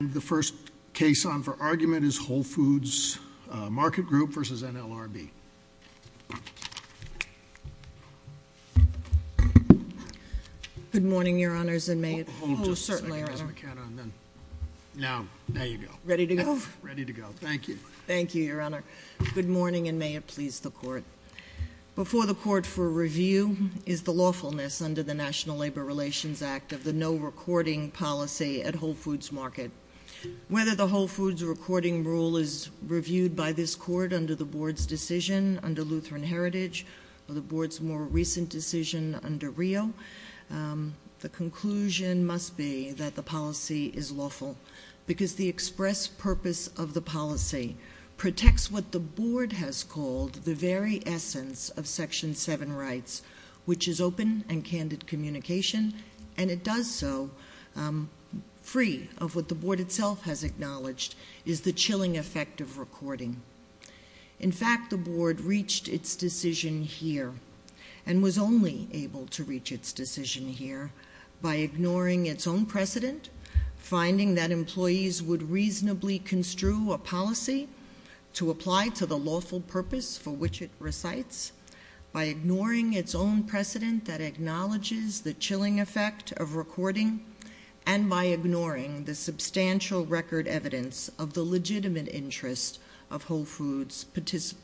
And the first case on for argument is Whole Foods Market Group v. NLRB. Good morning, Your Honors, and may it please the Court. Before the Court for review is the lawfulness under the National Labor Relations Act of the no recording policy at Whole Foods Market. Whether the Whole Foods recording rule is reviewed by this Court under the Board's decision under Lutheran Heritage or the Board's more recent decision under Rio, the conclusion must be that the policy is lawful because the express purpose of the policy protects what the Board has called the very essence of Section 7 rights, which is open and candid communication, and it does so free of what the Board itself has acknowledged is the chilling effect of recording. In fact, the Board reached its decision here and was only able to reach its decision here by ignoring its own precedent, finding that employees would reasonably construe a policy to apply to the lawful purpose for which it recites, by ignoring its own precedent that acknowledges the chilling effect of recording, and by ignoring the substantial record evidence of the legitimate interest of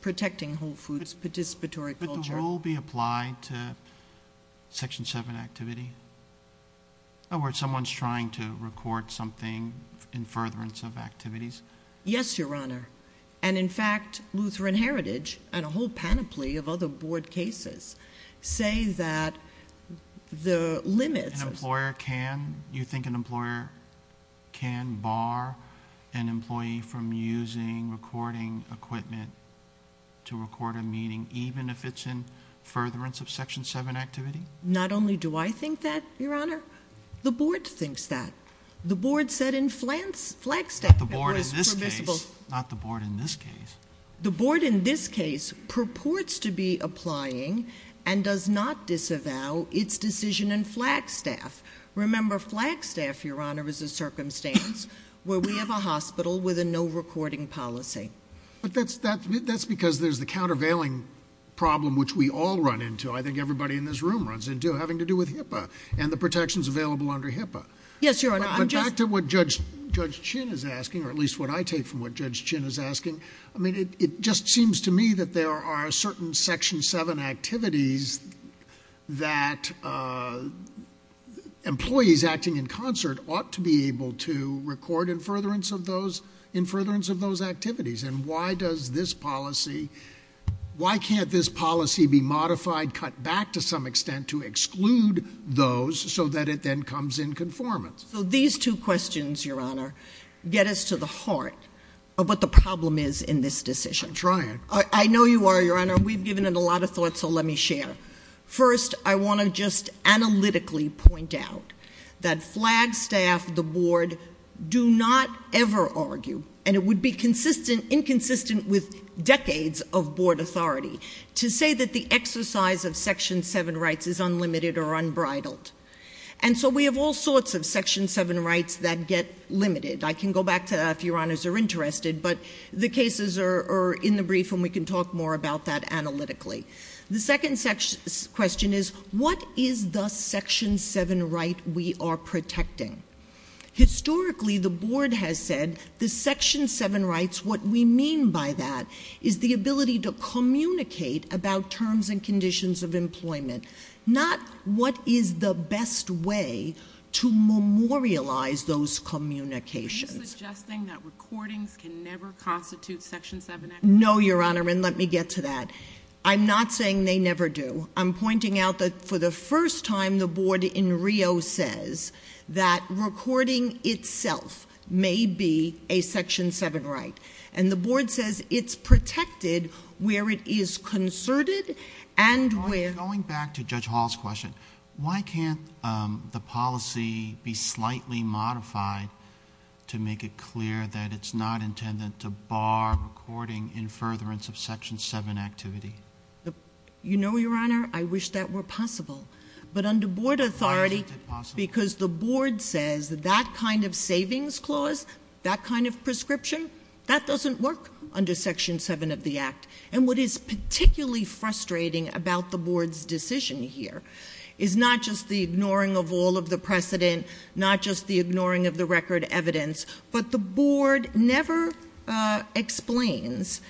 protecting Whole Foods' participatory culture. Would the rule be applied to Section 7 activity? In other words, someone's trying to record something in furtherance of activities? Yes, Your Honor. And in fact, Lutheran Heritage and a whole panoply of other Board cases say that the limits of Do you think an employer can bar an employee from using recording equipment to record a meeting even if it's in furtherance of Section 7 activity? Not only do I think that, Your Honor, the Board thinks that. The Board said in Flagstaff it was permissible. Not the Board in this case. The Board in this case purports to be applying and does not disavow its decision in Flagstaff. Remember, Flagstaff, Your Honor, is a circumstance where we have a hospital with a no recording policy. But that's because there's the countervailing problem which we all run into, I think everybody in this room runs into, having to do with HIPAA and the protections available under HIPAA. Yes, Your Honor. But back to what Judge Chin is asking, or at least what I take from what Judge Chin is asking. I mean, it just seems to me that there are certain Section 7 activities that employees acting in concert ought to be able to record in furtherance of those activities. And why does this policy, why can't this policy be modified, cut back to some extent to exclude those so that it then comes in conformance? So these two questions, Your Honor, get us to the heart of what the problem is in this decision. I'm trying. I know you are, Your Honor. We've given it a lot of thought, so let me share. First, I want to just analytically point out that Flagstaff, the Board, do not ever argue, and it would be inconsistent with decades of Board authority, to say that the exercise of Section 7 rights is unlimited or unbridled. And so we have all sorts of Section 7 rights that get limited. I can go back to that if Your Honors are interested, but the cases are in the brief and we can talk more about that analytically. The second question is, what is the Section 7 right we are protecting? Historically, the Board has said the Section 7 rights, what we mean by that is the ability to communicate about terms and conditions of employment, not what is the best way to memorialize those communications. Are you suggesting that recordings can never constitute Section 7? No, Your Honor, and let me get to that. I'm not saying they never do. I'm pointing out that for the first time, the Board in Rio says that recording itself may be a Section 7 right, and the Board says it's protected where it is concerted and where— Going back to Judge Hall's question, why can't the policy be slightly modified to make it clear that it's not intended to bar recording in furtherance of Section 7 activity? You know, Your Honor, I wish that were possible, but under Board authority— Why isn't it possible? Because the Board says that kind of savings clause, that kind of prescription, that doesn't work under Section 7 of the Act. And what is particularly frustrating about the Board's decision here is not just the ignoring of all of the precedent, not just the ignoring of the record evidence, but the Board never explains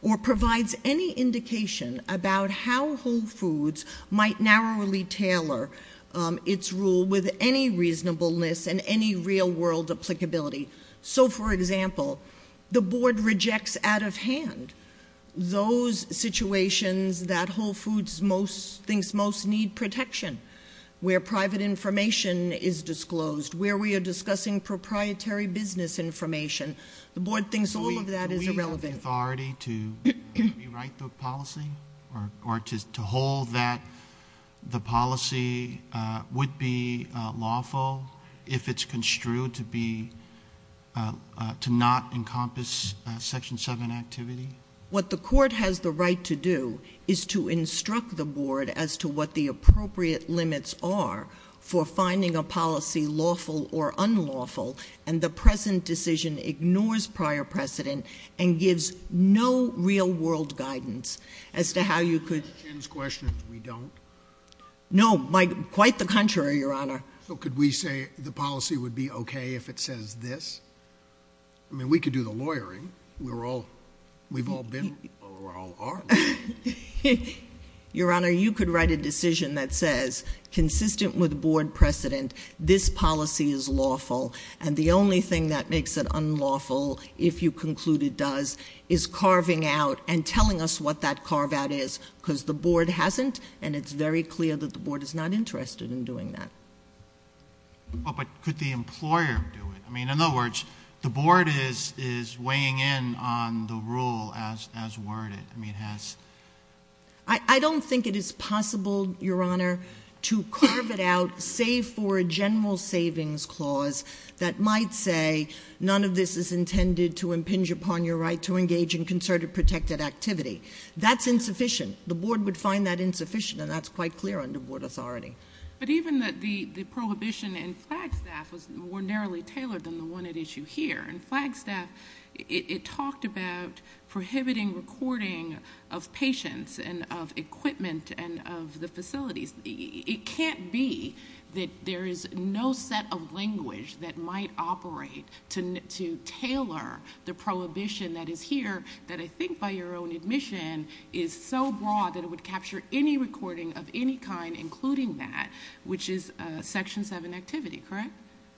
or provides any indication about how Whole Foods might narrowly tailor its rule with any reasonableness and any real-world applicability. So, for example, the Board rejects out of hand those situations that Whole Foods thinks most need protection, where private information is disclosed, where we are discussing proprietary business information. The Board thinks all of that is irrelevant. Does the Board have the authority to rewrite the policy or to hold that the policy would be lawful if it's construed to be—to not encompass Section 7 activity? What the Court has the right to do is to instruct the Board as to what the appropriate limits are for finding a policy lawful or unlawful, and the present decision ignores prior precedent and gives no real-world guidance as to how you could— Ms. Chin's question is, we don't? No, quite the contrary, Your Honor. So could we say the policy would be okay if it says this? I mean, we could do the lawyering. We've all been—or all are— Your Honor, you could write a decision that says, consistent with Board precedent, this policy is lawful, and the only thing that makes it unlawful, if you conclude it does, is carving out and telling us what that carve-out is, because the Board hasn't, and it's very clear that the Board is not interested in doing that. But could the employer do it? I mean, in other words, the Board is weighing in on the rule as worded. I don't think it is possible, Your Honor, to carve it out, save for a general savings clause that might say, none of this is intended to impinge upon your right to engage in concerted protected activity. That's insufficient. The Board would find that insufficient, and that's quite clear under Board authority. But even the prohibition in Flagstaff was more narrowly tailored than the one at issue here. In Flagstaff, it talked about prohibiting recording of patients and of equipment and of the facilities. It can't be that there is no set of language that might operate to tailor the prohibition that is here, that I think by your own admission is so broad that it would capture any recording of any kind, including that, which is Section 7 activity, correct?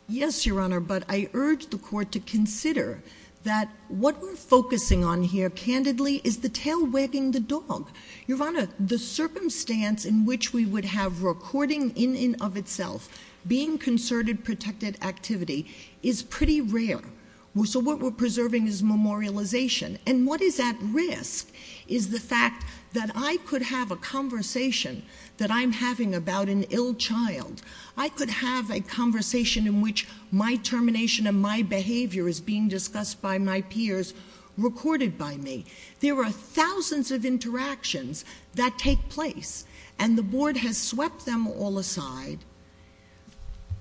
Yes, Your Honor, but I urge the Court to consider that what we're focusing on here, candidly, is the tail wagging the dog. Your Honor, the circumstance in which we would have recording in and of itself, being concerted protected activity, is pretty rare. So what we're preserving is memorialization. And what is at risk is the fact that I could have a conversation that I'm having about an ill child. I could have a conversation in which my termination and my behavior is being discussed by my peers, recorded by me. There are thousands of interactions that take place. And the Board has swept them all aside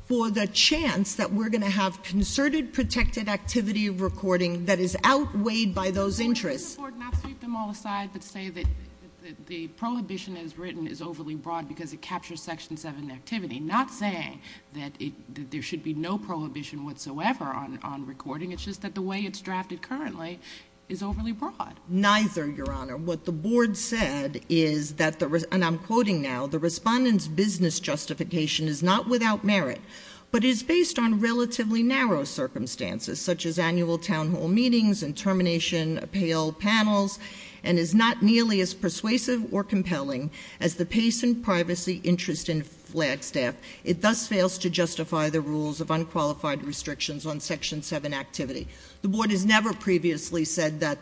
for the chance that we're going to have concerted protected activity of recording that is outweighed by those interests. Would the Board not sweep them all aside but say that the prohibition as written is overly broad because it captures Section 7 activity? Not saying that there should be no prohibition whatsoever on recording. It's just that the way it's drafted currently is overly broad. Neither, Your Honor. What the Board said is that, and I'm quoting now, the Respondent's business justification is not without merit, but is based on relatively narrow circumstances, such as annual town hall meetings and termination appeal panels, and is not nearly as persuasive or compelling as the pace and privacy interest in Flagstaff. It thus fails to justify the rules of unqualified restrictions on Section 7 activity. The Board has never previously said that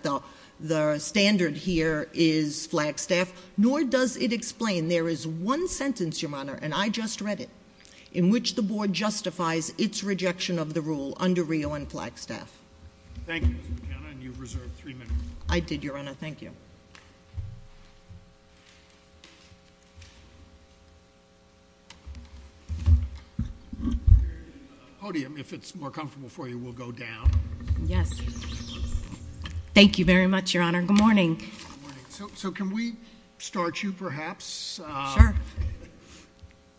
the standard here is Flagstaff, nor does it explain. There is one sentence, Your Honor, and I just read it, in which the Board justifies its rejection of the rule under Rio and Flagstaff. Thank you, Ms. McKenna, and you've reserved three minutes. I did, Your Honor. Thank you. Podium, if it's more comfortable for you, we'll go down. Yes. Thank you very much, Your Honor. Good morning. Good morning. So can we start you, perhaps? Sure.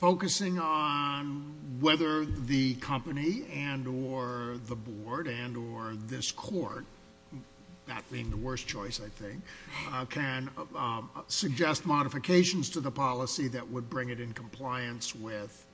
Focusing on whether the company and or the Board and or this Court, that being the worst choice, I think, can suggest modifications to the policy that would bring it in compliance with,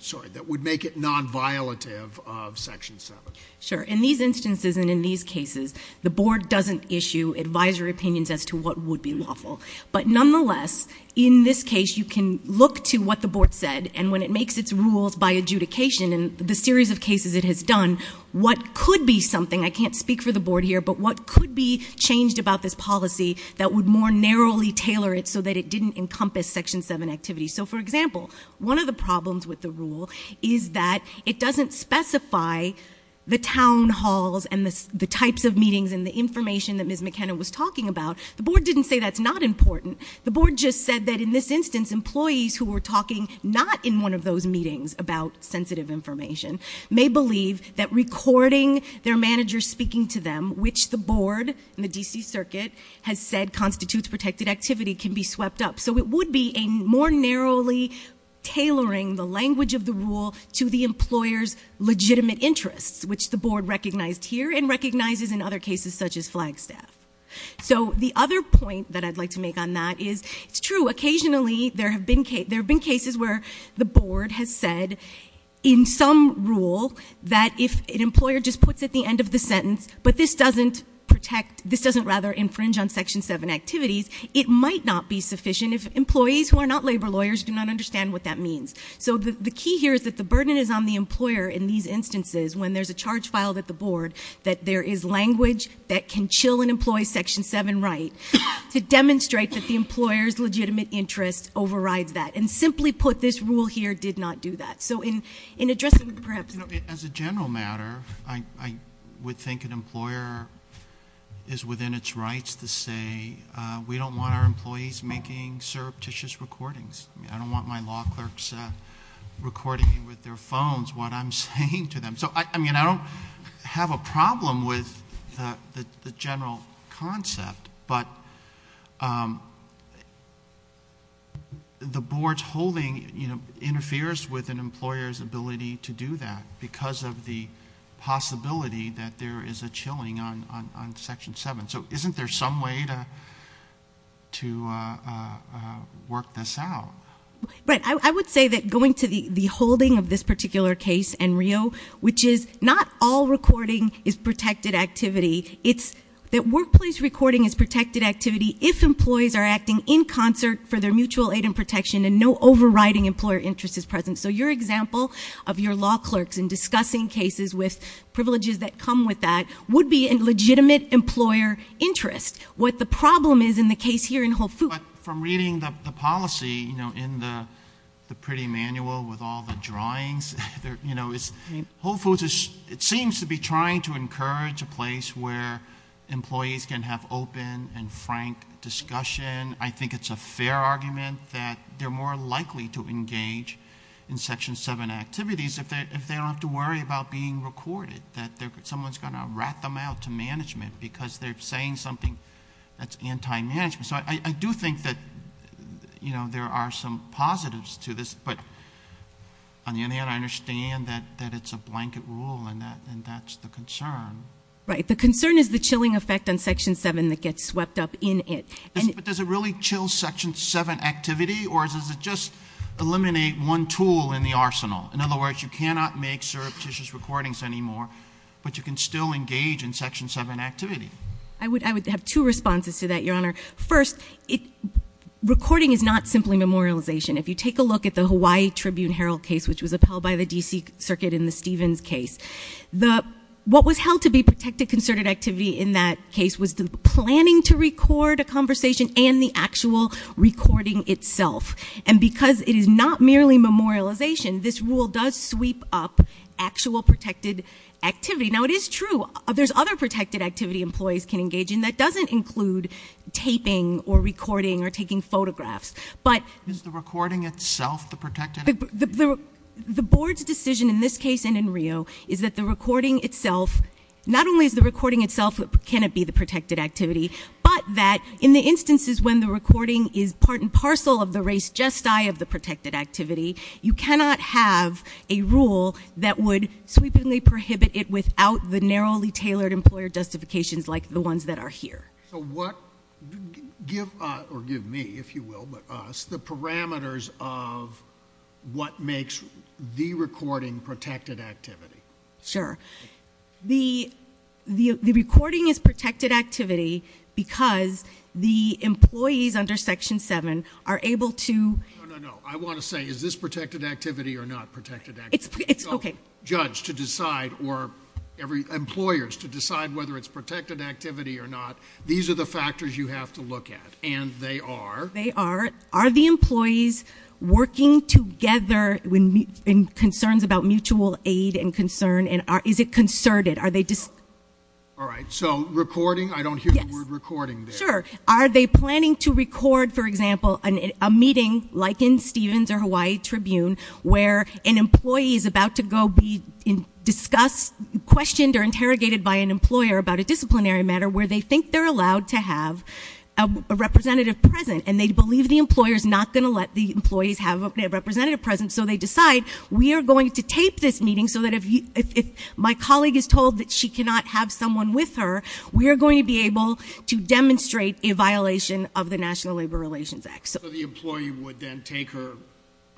sorry, that would make it non-violative of Section 7. Sure. In these instances and in these cases, the Board doesn't issue advisory opinions as to what would be lawful. But nonetheless, in this case, you can look to what the Board said, and when it makes its rules by adjudication and the series of cases it has done, what could be something, I can't speak for the Board here, but what could be changed about this policy that would more narrowly tailor it so that it didn't encompass Section 7 activities? So, for example, one of the problems with the rule is that it doesn't specify the town halls and the types of meetings and the information that Ms. McKenna was talking about. The Board didn't say that's not important. The Board just said that in this instance, employees who were talking not in one of those meetings about sensitive information may believe that recording their manager speaking to them, which the Board and the D.C. Circuit has said constitutes protected activity, can be swept up. So it would be a more narrowly tailoring the language of the rule to the employer's legitimate interests, which the Board recognized here and recognizes in other cases such as Flagstaff. So the other point that I'd like to make on that is it's true. Occasionally there have been cases where the Board has said in some rule that if an employer just puts at the end of the sentence, but this doesn't protect, this doesn't rather infringe on Section 7 activities, it might not be sufficient if employees who are not labor lawyers do not understand what that means. So the key here is that the burden is on the employer in these instances when there's a charge filed at the Board that there is language that can chill an employee's Section 7 right to demonstrate that the employer's legitimate interest overrides that. And simply put, this rule here did not do that. So in addressing perhaps... As a general matter, I would think an employer is within its rights to say we don't want our employees making surreptitious recordings. I don't want my law clerks recording me with their phones what I'm saying to them. So I don't have a problem with the general concept, but the Board's holding interferes with an employer's ability to do that because of the possibility that there is a chilling on Section 7. So isn't there some way to work this out? Right. I would say that going to the holding of this particular case in Rio, which is not all recording is protected activity. It's that workplace recording is protected activity if employees are acting in concert for their mutual aid and protection and no overriding employer interest is present. So your example of your law clerks in discussing cases with privileges that come with that would be a legitimate employer interest. What the problem is in the case here in Whole Foods... It's in the pretty manual with all the drawings. Whole Foods seems to be trying to encourage a place where employees can have open and frank discussion. I think it's a fair argument that they're more likely to engage in Section 7 activities if they don't have to worry about being recorded, that someone's going to rat them out to management because they're saying something that's anti-management. So I do think that there are some positives to this, but on the other hand, I understand that it's a blanket rule and that's the concern. Right. The concern is the chilling effect on Section 7 that gets swept up in it. But does it really chill Section 7 activity or does it just eliminate one tool in the arsenal? In other words, you cannot make surreptitious recordings anymore, but you can still engage in Section 7 activity. I would have two responses to that, Your Honor. First, recording is not simply memorialization. If you take a look at the Hawaii Tribune-Herald case, which was upheld by the D.C. Circuit in the Stevens case, what was held to be protected concerted activity in that case was the planning to record a conversation and the actual recording itself. And because it is not merely memorialization, this rule does sweep up actual protected activity. Now, it is true. There's other protected activity employees can engage in that doesn't include taping or recording or taking photographs, but- Is the recording itself the protected activity? The Board's decision in this case and in Rio is that the recording itself, not only is the recording itself what cannot be the protected activity, but that in the instances when the recording is part and parcel of the race gestae of the protected activity, you cannot have a rule that would sweepingly prohibit it without the narrowly tailored employer justifications like the ones that are here. So what- give me, if you will, but us, the parameters of what makes the recording protected activity. Sure. The recording is protected activity because the employees under Section 7 are able to- No, no, no. I want to say, is this protected activity or not protected activity? It's okay. So judge, to decide, or employers, to decide whether it's protected activity or not, these are the factors you have to look at, and they are- They are. Are the employees working together in concerns about mutual aid and concern, and is it concerted? All right. So recording? I don't hear the word recording there. Sure. Are they planning to record, for example, a meeting like in Stevens or Hawaii Tribune where an employee is about to go be discussed, questioned, or interrogated by an employer about a disciplinary matter where they think they're allowed to have a representative present, and they believe the employer is not going to let the employees have a representative present, so they decide we are going to tape this meeting so that if my colleague is told that she cannot have someone with her, we are going to be able to demonstrate a violation of the National Labor Relations Act. So the employee would then take her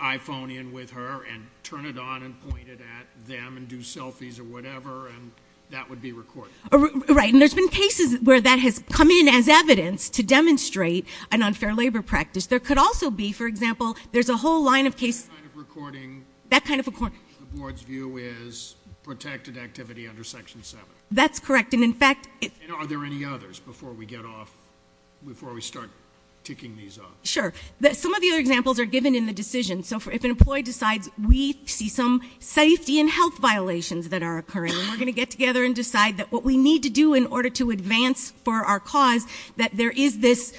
iPhone in with her and turn it on and point it at them and do selfies or whatever, and that would be recorded? Right. And there's been cases where that has come in as evidence to demonstrate an unfair labor practice. There could also be, for example, there's a whole line of cases- That kind of recording- That kind of recording- The board's view is protected activity under Section 7. That's correct, and in fact- And are there any others before we get off, before we start ticking these off? Sure. Some of the other examples are given in the decision, so if an employee decides we see some safety and health violations that are occurring, we're going to get together and decide that what we need to do in order to advance for our cause that there is this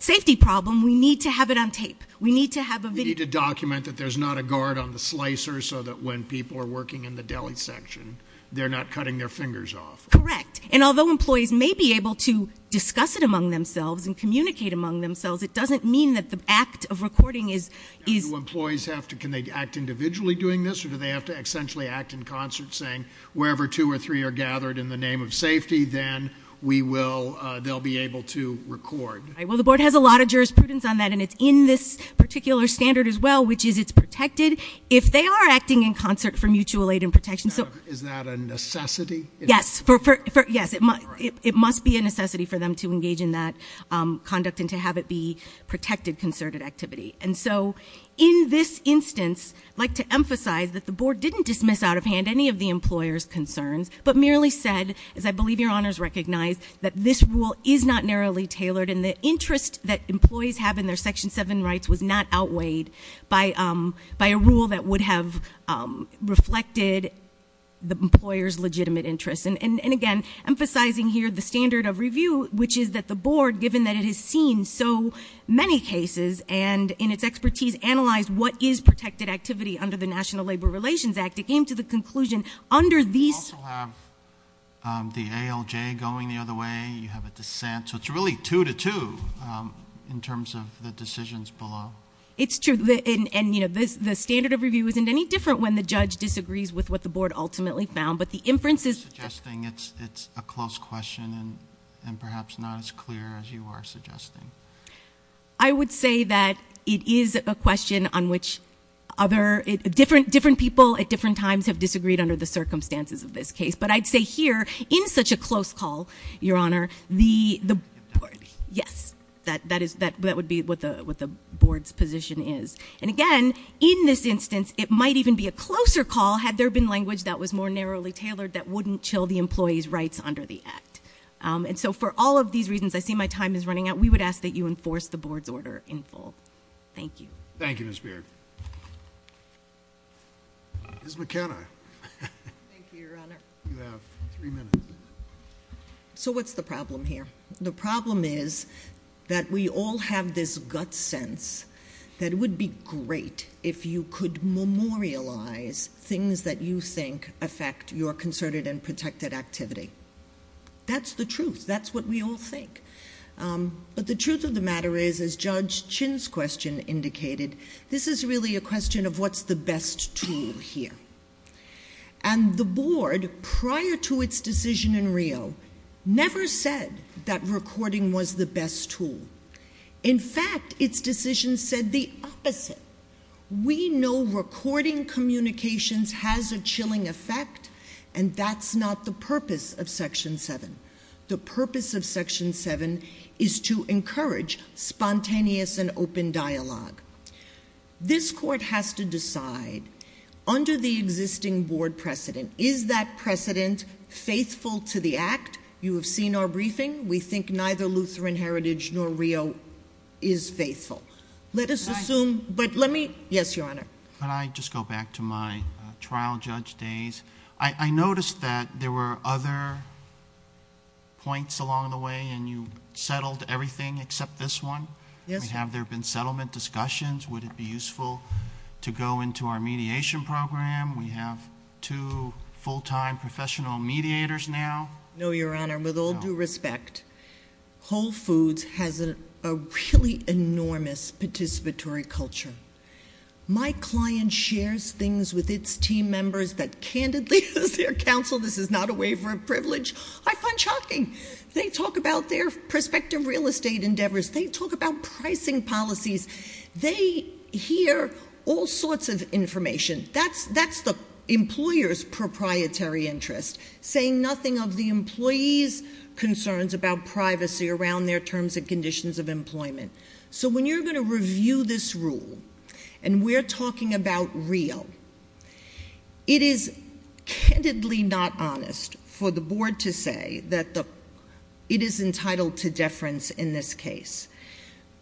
safety problem, we need to have it on tape. We need to have a video- We need to document that there's not a guard on the slicer so that when people are working in the deli section, they're not cutting their fingers off. Correct, and although employees may be able to discuss it among themselves and communicate among themselves, it doesn't mean that the act of recording is- Do employees have to, can they act individually doing this, or do they have to essentially act in concert saying, wherever two or three are gathered in the name of safety, then we will, they'll be able to record. Well, the board has a lot of jurisprudence on that, and it's in this particular standard as well, which is it's protected. If they are acting in concert for mutual aid and protection- Is that a necessity? Yes, it must be a necessity for them to engage in that conduct and to have it be protected concerted activity. And so in this instance, I'd like to emphasize that the board didn't dismiss out of hand any of the employer's concerns, but merely said, as I believe your honors recognize, that this rule is not narrowly tailored, and the interest that employees have in their Section 7 rights was not outweighed by a rule that would have reflected the employer's legitimate interest. And again, emphasizing here the standard of review, which is that the board, given that it has seen so many cases and in its expertise, analyzed what is protected activity under the National Labor Relations Act, it came to the conclusion under these- You also have the ALJ going the other way, you have a dissent, so it's really two to two in terms of the decisions below. It's true, and the standard of review isn't any different when the judge disagrees with what the board ultimately found, but the inferences- I'm just suggesting it's a close question, and perhaps not as clear as you are suggesting. I would say that it is a question on which different people at different times have disagreed under the circumstances of this case, but I'd say here, in such a close call, your honor, the- Yes, that would be what the board's position is. And again, in this instance, it might even be a closer call had there been language that was more narrowly tailored that wouldn't chill the employee's rights under the Act. And so for all of these reasons, I see my time is running out. We would ask that you enforce the board's order in full. Thank you. Thank you, Ms. Beard. Ms. McKenna. Thank you, your honor. You have three minutes. So what's the problem here? The problem is that we all have this gut sense that it would be great if you could memorialize things that you think affect your concerted and protected activity. That's the truth. That's what we all think. But the truth of the matter is, as Judge Chin's question indicated, this is really a question of what's the best tool here. And the board, prior to its decision in Rio, never said that recording was the best tool. In fact, its decision said the opposite. We know recording communications has a chilling effect, and that's not the purpose of Section 7. The purpose of Section 7 is to encourage spontaneous and open dialogue. This court has to decide, under the existing board precedent, is that precedent faithful to the act? You have seen our briefing. We think neither Lutheran Heritage nor Rio is faithful. Let us assume... Can I... Yes, your honor. Can I just go back to my trial judge days? I noticed that there were other points along the way, and you settled everything except this one. Yes. Have there been settlement discussions? Would it be useful to go into our mediation program? We have two full-time professional mediators now. No, your honor. With all due respect, Whole Foods has a really enormous participatory culture. My client shares things with its team members that, candidly, as their counsel, this is not a waiver of privilege, I find shocking. They talk about their prospective real estate endeavors. They talk about pricing policies. They hear all sorts of information. That's the employer's proprietary interest, saying nothing of the employee's concerns about privacy around their terms and conditions of employment. So when you're going to review this rule, and we're talking about Rio, it is candidly not honest for the board to say that it is entitled to deference in this case.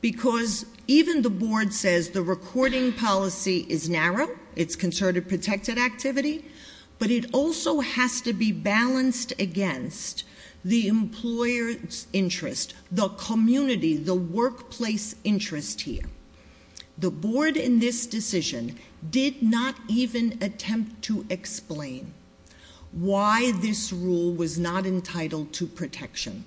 Because even the board says the recording policy is narrow, it's considered a protected activity, but it also has to be balanced against the employer's interest, the community, the workplace interest here. The board in this decision did not even attempt to explain why this rule was not entitled to protection.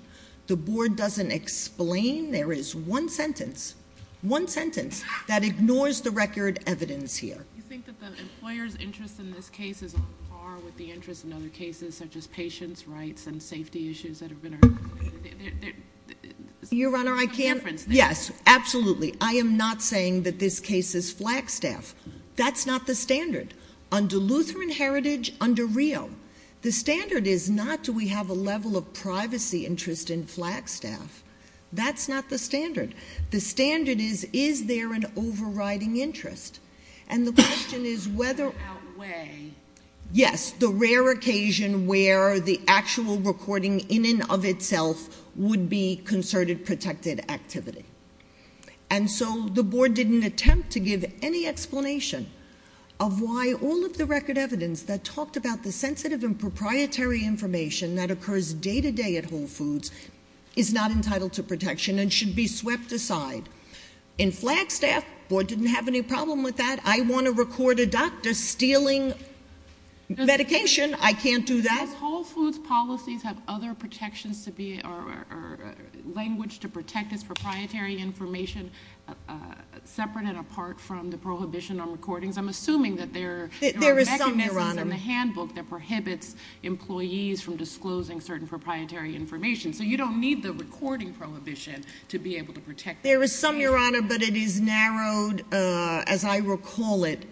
The board doesn't explain. There is one sentence, one sentence, that ignores the record evidence here. You think that the employer's interest in this case is on par with the interest in other cases, such as patients' rights and safety issues that have been. Your honor, I can't- There's some difference there. Yes, absolutely. I am not saying that this case is flagstaffed. That's not the standard. Under Lutheran Heritage, under Rio, the standard is not do we have a level of privacy and interest in flagstaff. That's not the standard. The standard is, is there an overriding interest? And the question is whether- Does that outweigh- Yes, the rare occasion where the actual recording in and of itself would be concerted protected activity. And so the board didn't attempt to give any explanation of why all of the record evidence that talked about the sensitive and is not entitled to protection and should be swept aside. In Flagstaff, board didn't have any problem with that. I want to record a doctor stealing medication. I can't do that. Does Whole Foods policies have other protections to be, or language to protect this proprietary information separate and apart from the prohibition on recordings? I'm assuming that there are mechanisms in the handbook that prohibits employees from disclosing certain proprietary information, so you don't need the recording prohibition to be able to protect- There is some, Your Honor, but it is narrowed, as I recall it,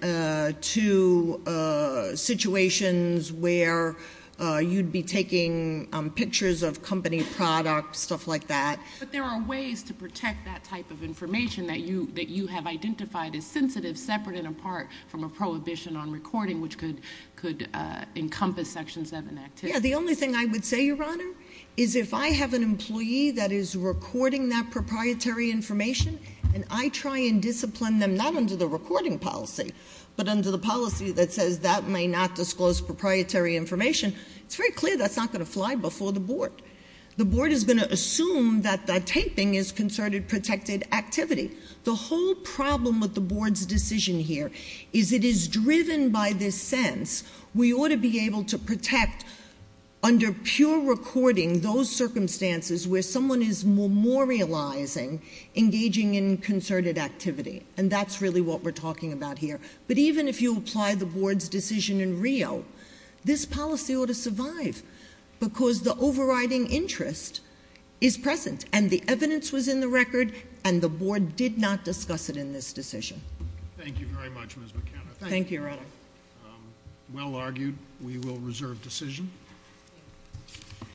to situations where you'd be taking pictures of company products, stuff like that. But there are ways to protect that type of information that you have identified as sensitive, separate and apart from a prohibition on recording, which could encompass section seven activity. Yeah, the only thing I would say, Your Honor, is if I have an employee that is recording that proprietary information, and I try and discipline them, not under the recording policy, but under the policy that says that may not disclose proprietary information, it's very clear that's not going to fly before the board. The board is going to assume that the taping is concerted protected activity. The whole problem with the board's decision here is it is driven by this sense, we ought to be able to protect under pure recording those circumstances where someone is memorializing, engaging in concerted activity, and that's really what we're talking about here. But even if you apply the board's decision in Rio, this policy ought to survive, because the overriding interest is present, and the evidence was in the record, and the board did not discuss it in this decision. Thank you very much, Ms. McKenna. Thank you, Your Honor. Well argued. We will reserve decision.